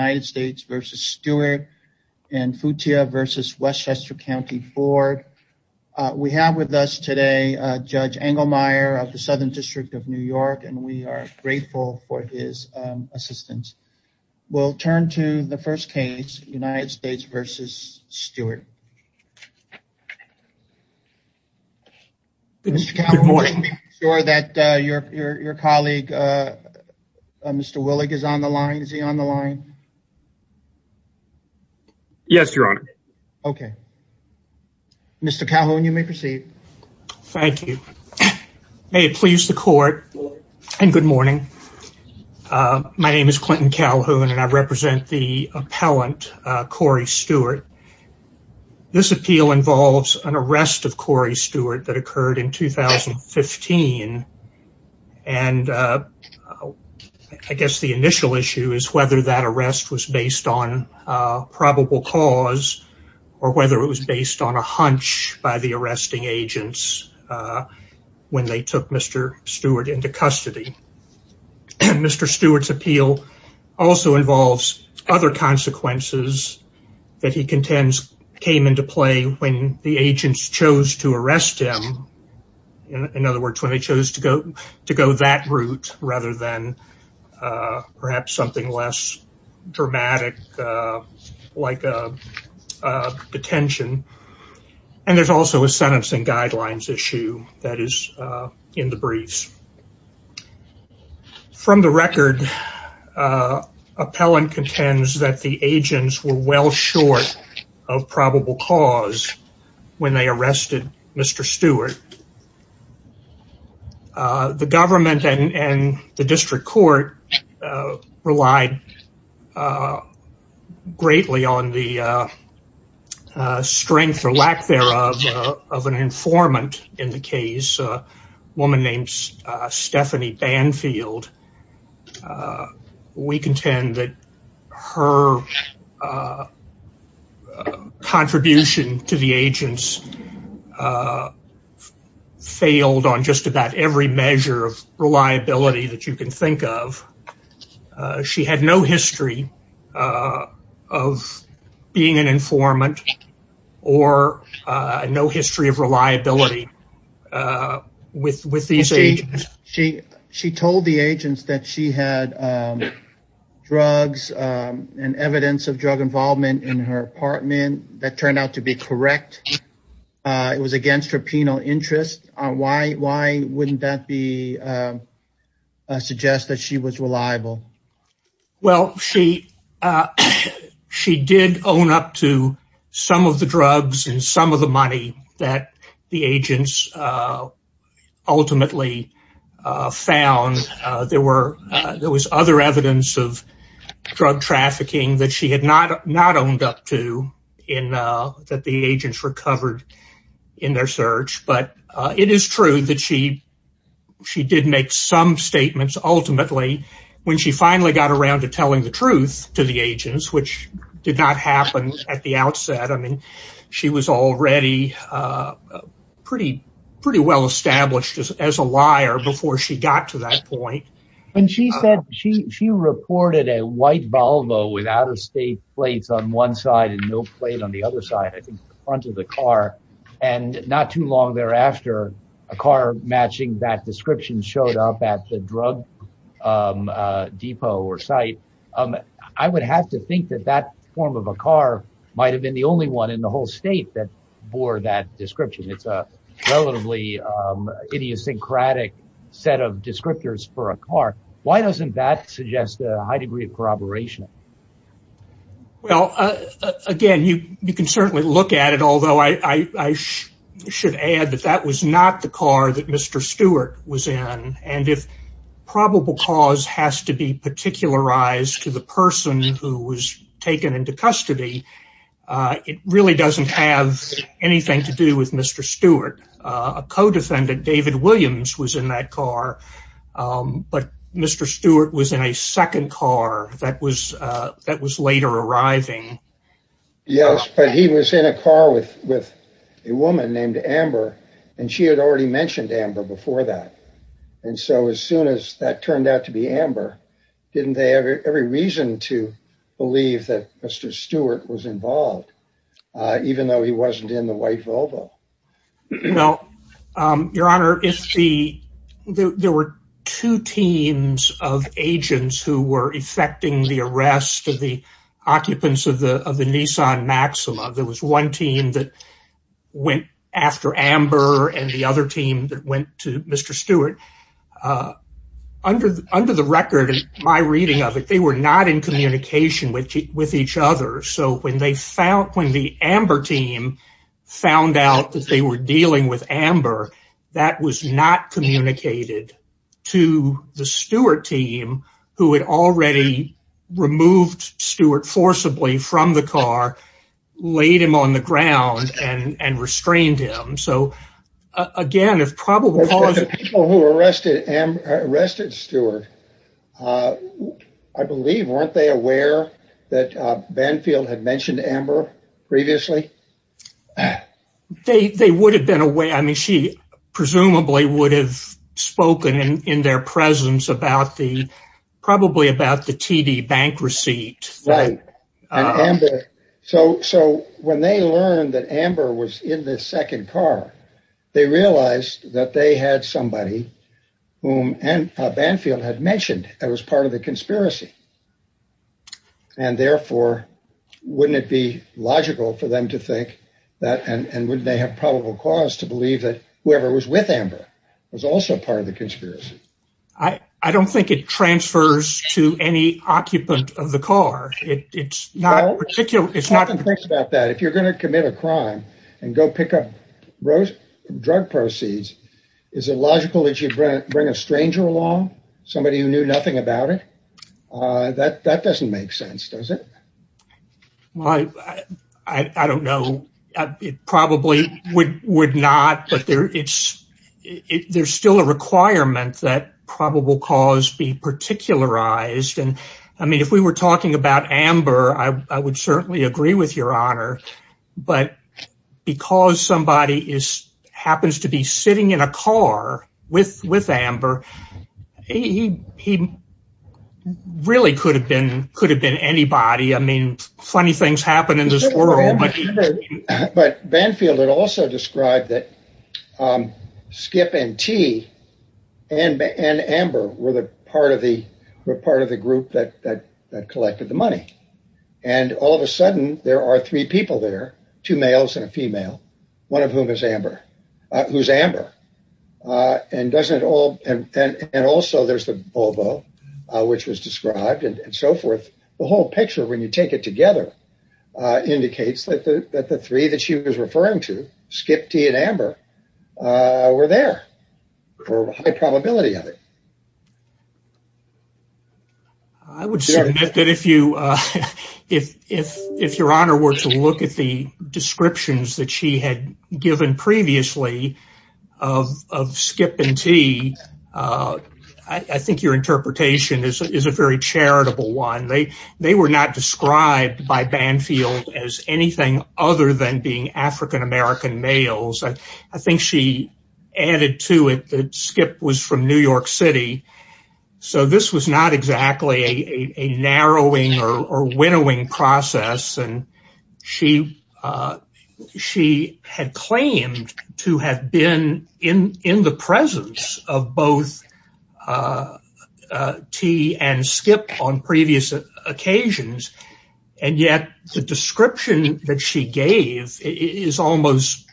United States v. Stewart, and Futia v. Westchester County Court. We have with us today Judge Engelmeyer of the Southern District of New York, and we are grateful for his assistance. We'll turn to the first case, United States v. Stewart. Mr. Calhoun, I want to make sure that your colleague, Mr. Willig, is on the line. Is that correct? Yes, Your Honor. Okay. Mr. Calhoun, you may proceed. Thank you. May it please the court, and good morning. My name is Clinton Calhoun, and I represent the appellant, Corey Stewart. This appeal involves an arrest of Corey Stewart that occurred in 2015, and I guess the initial issue is whether that arrest was based on a probable cause, or whether it was based on a hunch by the arresting agents when they took Mr. Stewart into custody. Mr. Stewart's appeal also involves other consequences that he contends came into play when the agents chose to arrest him. In other words, when they chose to go that route, rather than perhaps something less dramatic, like a detention, and there's also a sentencing guidelines issue that is in the briefs. From the record, appellant contends that the agents were well short of probable cause when they arrested Mr. Stewart. The government and the district court relied greatly on the We contend that her contribution to the agents failed on just about every measure of reliability that you can think of. She had no history of being an informant, or no history of reliability with these agents. She told the agents that she had drugs and evidence of drug involvement in her apartment that turned out to be correct. It was against her penal interest. Why wouldn't that suggest that she was reliable? Well, she did own up to some of the drugs and some of the money that the agents ultimately found. There was other evidence of drug trafficking that she had not owned up to that the agents recovered in their search. But it is true that she did make some statements ultimately when she finally got around to telling the truth to the agents, which did not look pretty well established as a liar before she got to that point. She reported a white Volvo with out-of-state plates on one side and no plate on the other side, I think, in front of the car. Not too long thereafter, a car matching that description showed up at the drug depot or site. I would have to think that that form of a car might have been the only one in the whole state that bore that description. It's a relatively idiosyncratic set of descriptors for a car. Why doesn't that suggest a high degree of corroboration? Well, again, you can certainly look at it, although I should add that that was not the car that Mr. Stewart was in. And if probable cause has to be particularized to the person who was it really doesn't have anything to do with Mr. Stewart. A co-defendant, David Williams, was in that car. But Mr. Stewart was in a second car that was later arriving. Yes, but he was in a car with a woman named Amber, and she had already mentioned Amber before that. And so as soon as that turned out to be Amber, didn't they have every reason to believe that Mr. Stewart was involved, even though he wasn't in the white Volvo? No, Your Honor. There were two teams of agents who were effecting the arrest of the occupants of the Nissan Maxima. There was one team that went after Amber and the other team that went to Mr. Stewart. Under the record in my reading of it, they were not in communication with each other. So when the Amber team found out that they were dealing with Amber, that was not communicated to the Stewart team, who had already removed Stewart forcibly from the car, laid him on the ground and restrained him. So, again, it's probably... But the people who arrested Stewart, I believe, weren't they aware that Banfield had mentioned Amber previously? They would have been aware. I mean, she presumably would have spoken in their presence about the, probably about the TD bank receipt. Right. So when they learned that Amber was in the second car, they realized that they had somebody whom Banfield had mentioned that was part of the conspiracy. And therefore, wouldn't it be logical for them to think that and wouldn't they have probable cause to believe that whoever was with Amber was also part of the conspiracy? I don't think it transfers to any occupant of the car. It's not... Well, there's two things about that. If you're going to commit a crime and go pick up drug proceeds, is it logical that you bring a stranger along, somebody who knew nothing about it? That doesn't make sense, does it? Well, I don't know. It probably would not, but there's still a requirement that probable cause be particularized. And, I mean, if we were talking about Amber, I would certainly agree with your honor. But because somebody happens to be sitting in a car with Amber, he really could have been anybody. I mean, funny things happen in this world. But Banfield had also described that Skip and T and Amber were part of the group that collected the money. And all of a sudden, there are three people there, two males and a female, one of whom is Amber, who's Amber. And also there's the Volvo, which was described and so forth. The whole picture, when you take it together, indicates that the three that she was referring to, Skip, T and Amber, were there for high probability of it. I would say that if your honor were to look at the descriptions that she had given previously of Skip and T, I think your interpretation is a very charitable one. They were not described by Banfield as anything other than being African American males. I think she added to it that Skip was from New York City. So this was not exactly a narrowing or winnowing process. And she had claimed to have been in the presence of both T and Skip on previous occasions. And yet the description that she gave is almost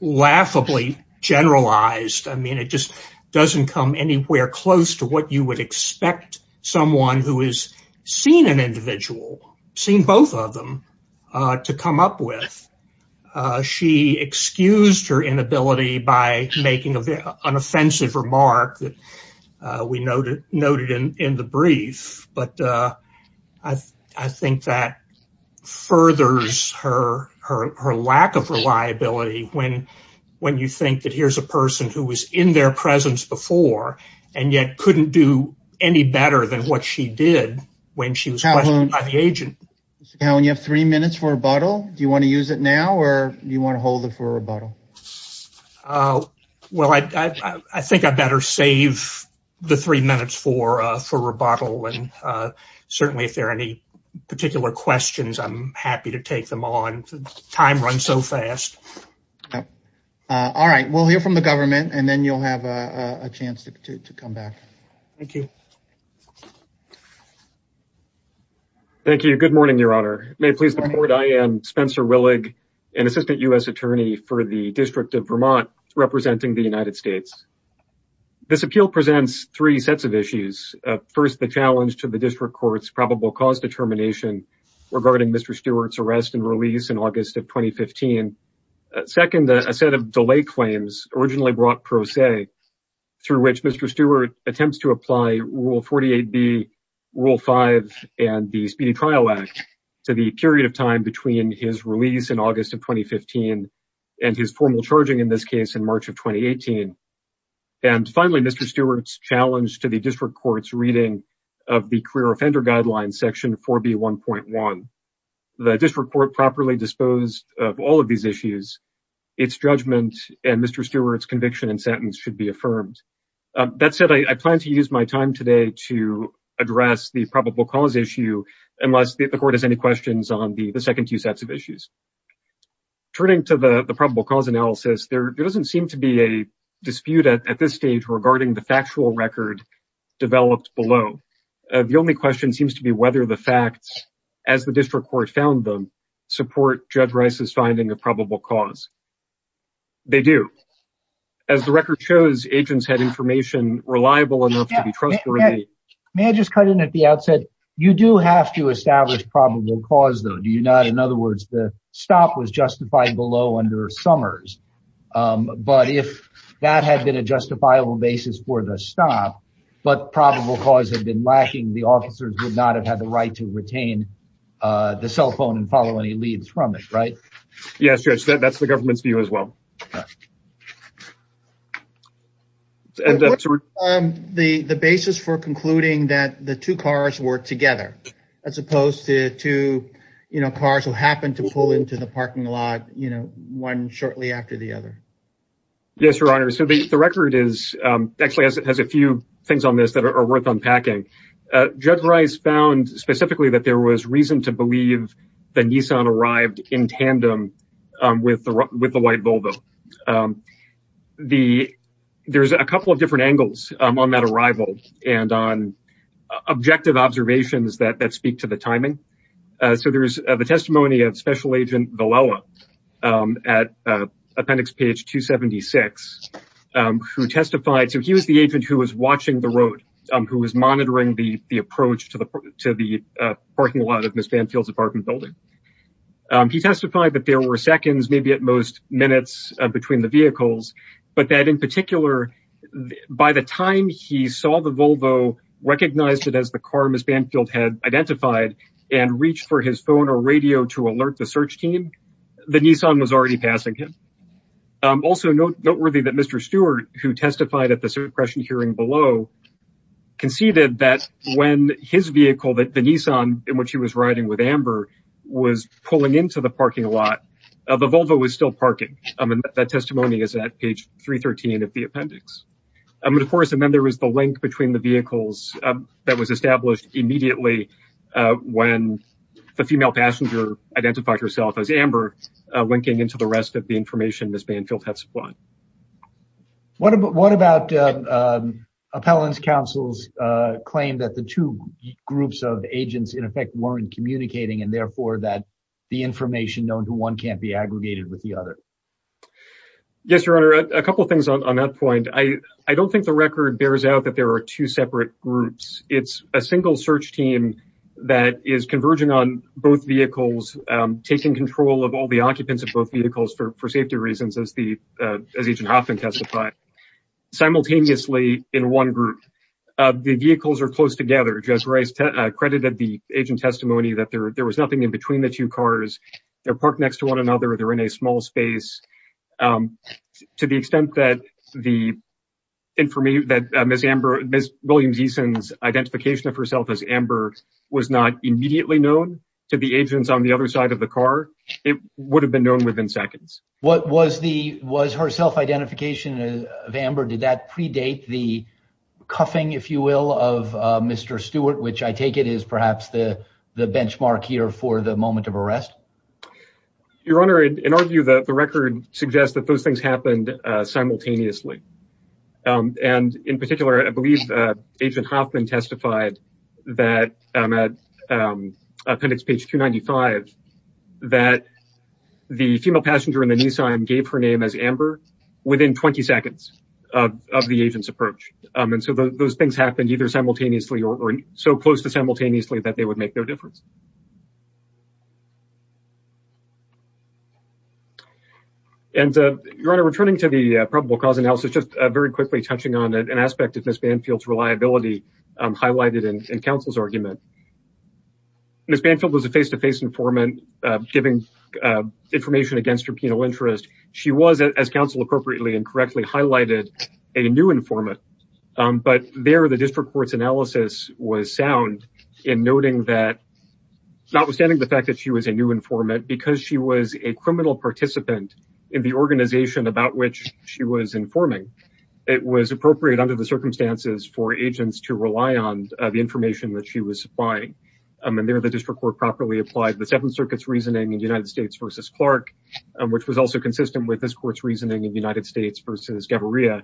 laughably generalized. I mean, it just doesn't come anywhere close to what you would expect someone who has seen an individual, seen both of them, to come up with. She excused her inability by making an offensive remark that we noted in the brief. But I think that furthers her lack of reliability when you think that here's a person who was in their presence before and yet couldn't do any better than what she did when she was questioned by the court. I think I better save the three minutes for rebuttal. And certainly if there are any particular questions, I'm happy to take them on. Time runs so fast. All right. We'll hear from the government and then you'll have a chance to come back. Thank you. Thank you. Good morning, Your Honor. May it please the Court, I am Spencer Willig, an Assistant U.S. Attorney for the District of Vermont representing the United States. This appeal presents three sets of issues. First, the challenge to the District Court's probable cause determination regarding Mr. Stewart's arrest and release in August of 2015. Second, a set of delay claims originally brought pro se, through which Mr. Stewart attempts to apply Rule 48B, Rule 5, and the Speedy Trial Act to the period of time between his release in August of 2015 and his formal charging in this case in March of 2018. And finally, Mr. Stewart's challenge to the District Court's reading of the Career Offender Guidelines, Section 4B1.1. The District Court properly disposed of all of these issues. Its judgment and Mr. Stewart's conviction and sentence should be affirmed. That said, I plan to use my time today to address the probable cause issue unless the Court has any questions on the second two sets of issues. Turning to the probable cause analysis, there doesn't seem to be a dispute at this stage regarding the factual record developed below. The only question seems to be whether the facts, as the District Court found them, support Judge Rice's finding of probable cause. They do. As the record shows, agents had information reliable enough to be trusted. May I just cut in at the outset? You do have to establish probable cause though, do you not? In other words, the stop was justified below under Summers. But if that had been a justifiable basis for the stop, but probable cause had been lacking, the officers would not have had the right to retain the cell phone and follow any leads from it, right? Yes, Judge, that's the government's view as well. What's the basis for concluding that the two cars were together as opposed to two cars who happened to pull into the parking lot, you know, one shortly after the other? Yes, Your Honor, so the record actually has a few things on this that are worth unpacking. Judge Rice found specifically that there was reason to believe the Nissan arrived in tandem with the white Volvo. There's a couple of different angles on that arrival and on objective observations that speak to the timing. So there's the testimony of Special Agent Vilella at appendix page 276 who testified. So he was the agent who was watching the road, who was monitoring the approach to the parking lot of Ms. Banfield's apartment building. He testified that there were seconds, maybe at most minutes between the vehicles, but that in particular, by the time he saw the Volvo, recognized it as the car Ms. Banfield had identified and reached for his phone or radio to alert the search team, the Nissan was already passing him. Also noteworthy that Mr. Stewart, who testified at the suppression hearing below, conceded that when his vehicle, the Nissan in which he was riding with Amber, was pulling into the parking lot, the Volvo was still parking. I mean, that testimony is at page 313 of the appendix. I mean, of course, and then there was the link between the vehicles that was established immediately when the female passenger identified herself as Amber, linking into the rest of the information Ms. Banfield had supplied. What about appellant's counsel's claim that the two groups of agents in effect weren't communicating and therefore that the information known to one can't be aggregated with the other? Yes, your honor, a couple things on that point. I don't think the record bears out that there are two separate groups. It's a single search team that is converging on both vehicles, taking control of all the occupants of both vehicles for safety reasons, as Agent Hoffman testified. Simultaneously, in one group, the vehicles are close together. Judge Rice credited the agent testimony that there was nothing in between the two cars. They're parked next to one another. They're in a small space. To the extent that Ms. Williams-Eason's identification of herself as Amber was not immediately known to the agents on the other side of the car, it would have been known within seconds. Was her self-identification of Amber, did that predate the cuffing, if you will, of Mr. Stewart, which I take it is perhaps the benchmark here for the moment of arrest? Your honor, in our view, the record suggests that those things happened simultaneously. In particular, I believe Agent Hoffman testified at appendix page 295 that the female passenger in the Nissan gave her name as Amber within 20 seconds of the agent's approach. Those things happened either simultaneously or so close to simultaneously that they would make no difference. Your honor, returning to the probable cause analysis, just very quickly touching on an aspect of Ms. Banfield's reliability highlighted in counsel's argument. Ms. Banfield was a face-to-face informant giving information against her penal interest. She was, as counsel appropriately and correctly highlighted, a new informant, but there the district court's analysis was sound in noting that notwithstanding the fact that she was a new informant, because she was a criminal participant in the organization about which she was informing, it was appropriate under the circumstances for agents to rely on the information that she was supplying. And there the district court properly applied the Seventh Circuit's reasoning in United States versus Clark, which was also consistent with this court's reasoning in United States versus Gaviria,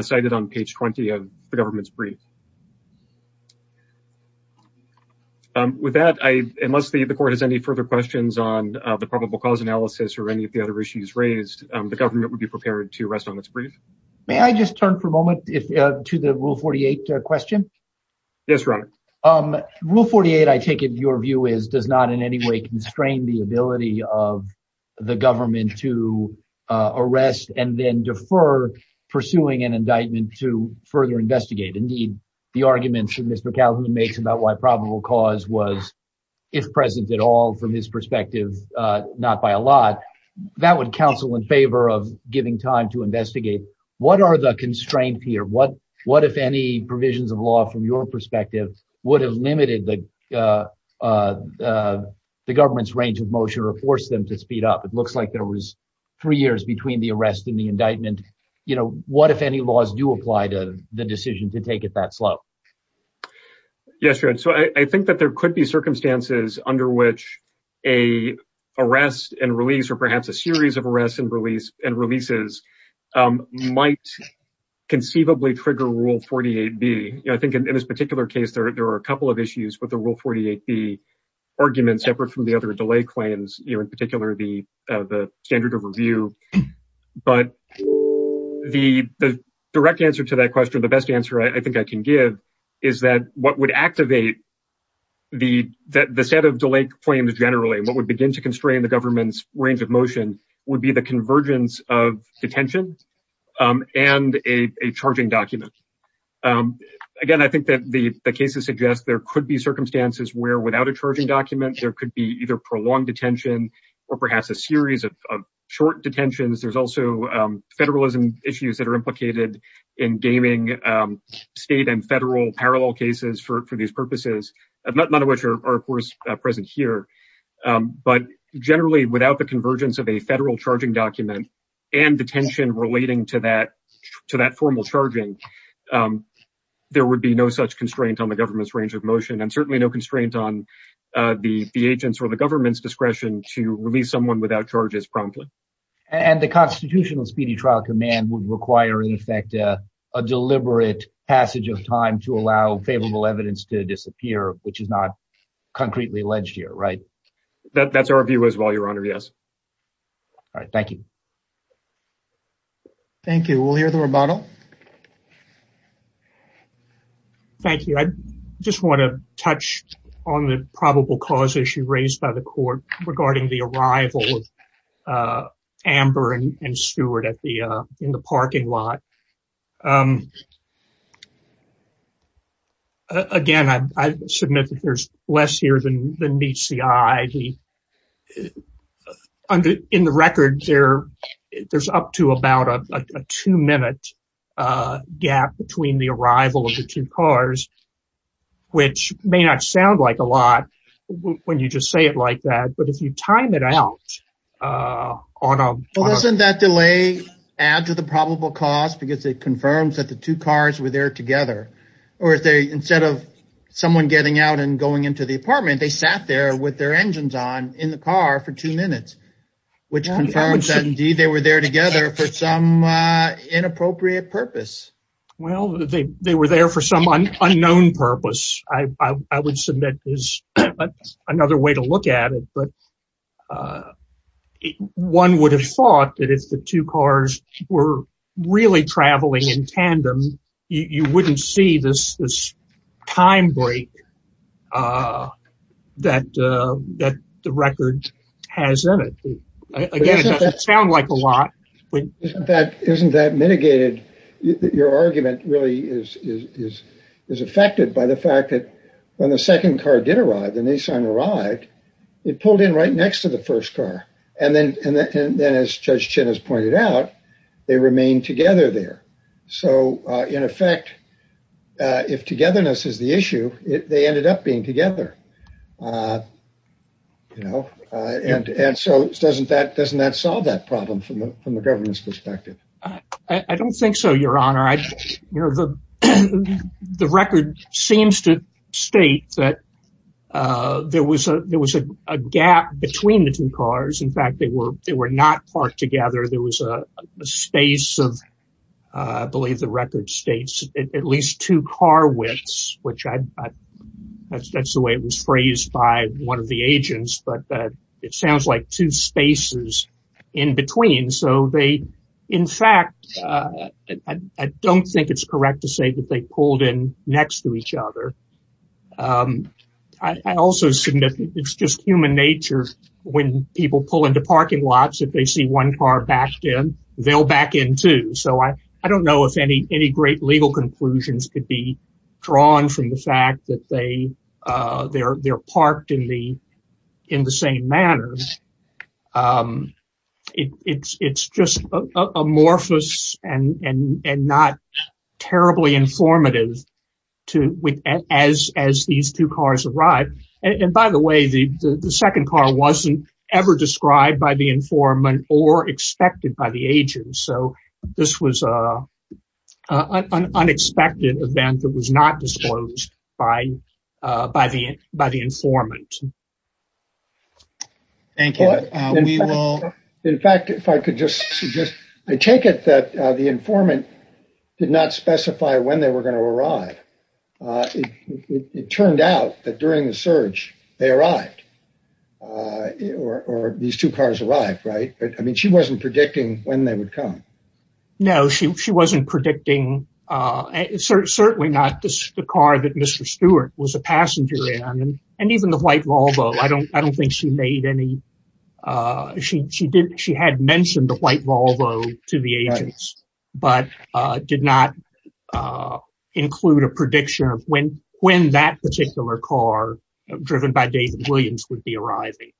cited on page 20 of the government's brief. With that, unless the court has any further questions on the probable cause analysis or any of the other issues raised, the government would be prepared to rest on its brief. May I just turn for a moment to the rule 48 question? Yes, your honor. Rule 48, I take it your view is, does not in any way constrain the ability of the government to arrest and then defer pursuing an indictment to further investigate? Indeed, the arguments that Mr. Kaufman makes about why probable cause was, if present at all from his perspective, not by a lot, that would counsel in favor of giving time to investigate. What are the constraints here? What if any provisions of law from your perspective would have limited the government's range of motion or forced them to speed up? It looks like there was three years between the arrest and the indictment. What if any laws do apply to the decision to take it that slow? Yes, your honor. I think that there could be circumstances under which a arrest and release or perhaps a series of arrests and releases might conceivably trigger rule 48B. I think in this particular case, there are a couple of issues with the rule 48B argument separate from the other delay claims, in particular the standard of review. But the direct answer to that question, the best answer I think I can give is that what would activate the set of delay claims generally, what would begin to constrain the government's range of motion would be the convergence of detention and a charging document. Again, I think that the circumstances where without a charging document, there could be either prolonged detention or perhaps a series of short detentions. There's also federalism issues that are implicated in gaming state and federal parallel cases for these purposes, none of which are of course present here. But generally without the convergence of a federal charging document and detention relating to that formal charging, there would be no such constraint on the agency or the government's discretion to release someone without charges promptly. And the constitutional speedy trial command would require in effect a deliberate passage of time to allow favorable evidence to disappear, which is not concretely alleged here, right? That's our view as well, your honor. Yes. All right. Thank you. Thank you. We'll hear the rebuttal. Thank you. I just want to touch on the probable cause issue raised by the court regarding the arrival of Amber and Stuart at the, in the parking lot. Again, I submit that there's less here than meets the eye. In the record, there's up to about a two-minute gap between the arrival of the two cars, which may not sound like a lot when you just say it like that, but if you time it out on a- Well, doesn't that delay add to the probable cause because it confirms that the two cars were there together? Or if they, instead of someone getting out and going into the apartment, they sat there with their engines on in the car for two minutes, which confirms that indeed, they were there together for some inappropriate purpose. Well, they were there for some unknown purpose. I would submit is another way to look at it, but one would have thought that if the two cars were really traveling in tandem, you wouldn't see this time break that the record has in it. Again, it doesn't sound like a lot. Isn't that mitigated? Your argument really is affected by the fact that when the second car did arrive, the Nissan arrived, it pulled in right next to the first car. And then as Judge So in effect, if togetherness is the issue, they ended up being together. Doesn't that solve that problem from the government's perspective? I don't think so, Your Honor. The record seems to state that there was a gap between the two cars. In fact, they were not parked together. There was a space of, I believe the record states, at least two car widths, which that's the way it was phrased by one of the agents. But it sounds like two spaces in between. So they, in fact, I don't think it's correct to say that they pulled in next to each other. It's just human nature. When people pull into parking lots, if they see one car backed in, they'll back in too. So I don't know if any great legal conclusions could be drawn from the fact that they're parked in the same manner. It's just amorphous and not terribly informative as these two cars arrive. And by the way, the second car wasn't ever described by the informant or expected by the agent. So this was an unexpected event that was not disclosed by the informant. Thank you. In fact, if I could just suggest, I take it that the informant did not specify when they were going to arrive. It turned out that during the search, they arrived, or these two cars arrived, right? I mean, she wasn't predicting when they would come. No, she wasn't predicting. It's certainly not the car that Mr. Stewart was a passenger in. And even the white Volvo, I don't think she made any, she had mentioned the white Volvo to the agents, but did not include a prediction of when that particular car, driven by David Williams, would be arriving.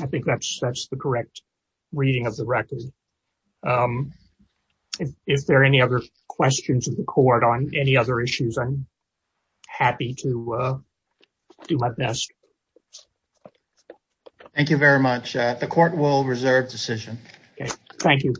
I think that's the correct reading of the record. If there are any other questions of the court on any other issues, I'm do my best. Thank you very much. The court will reserve decision. Okay. Thank you.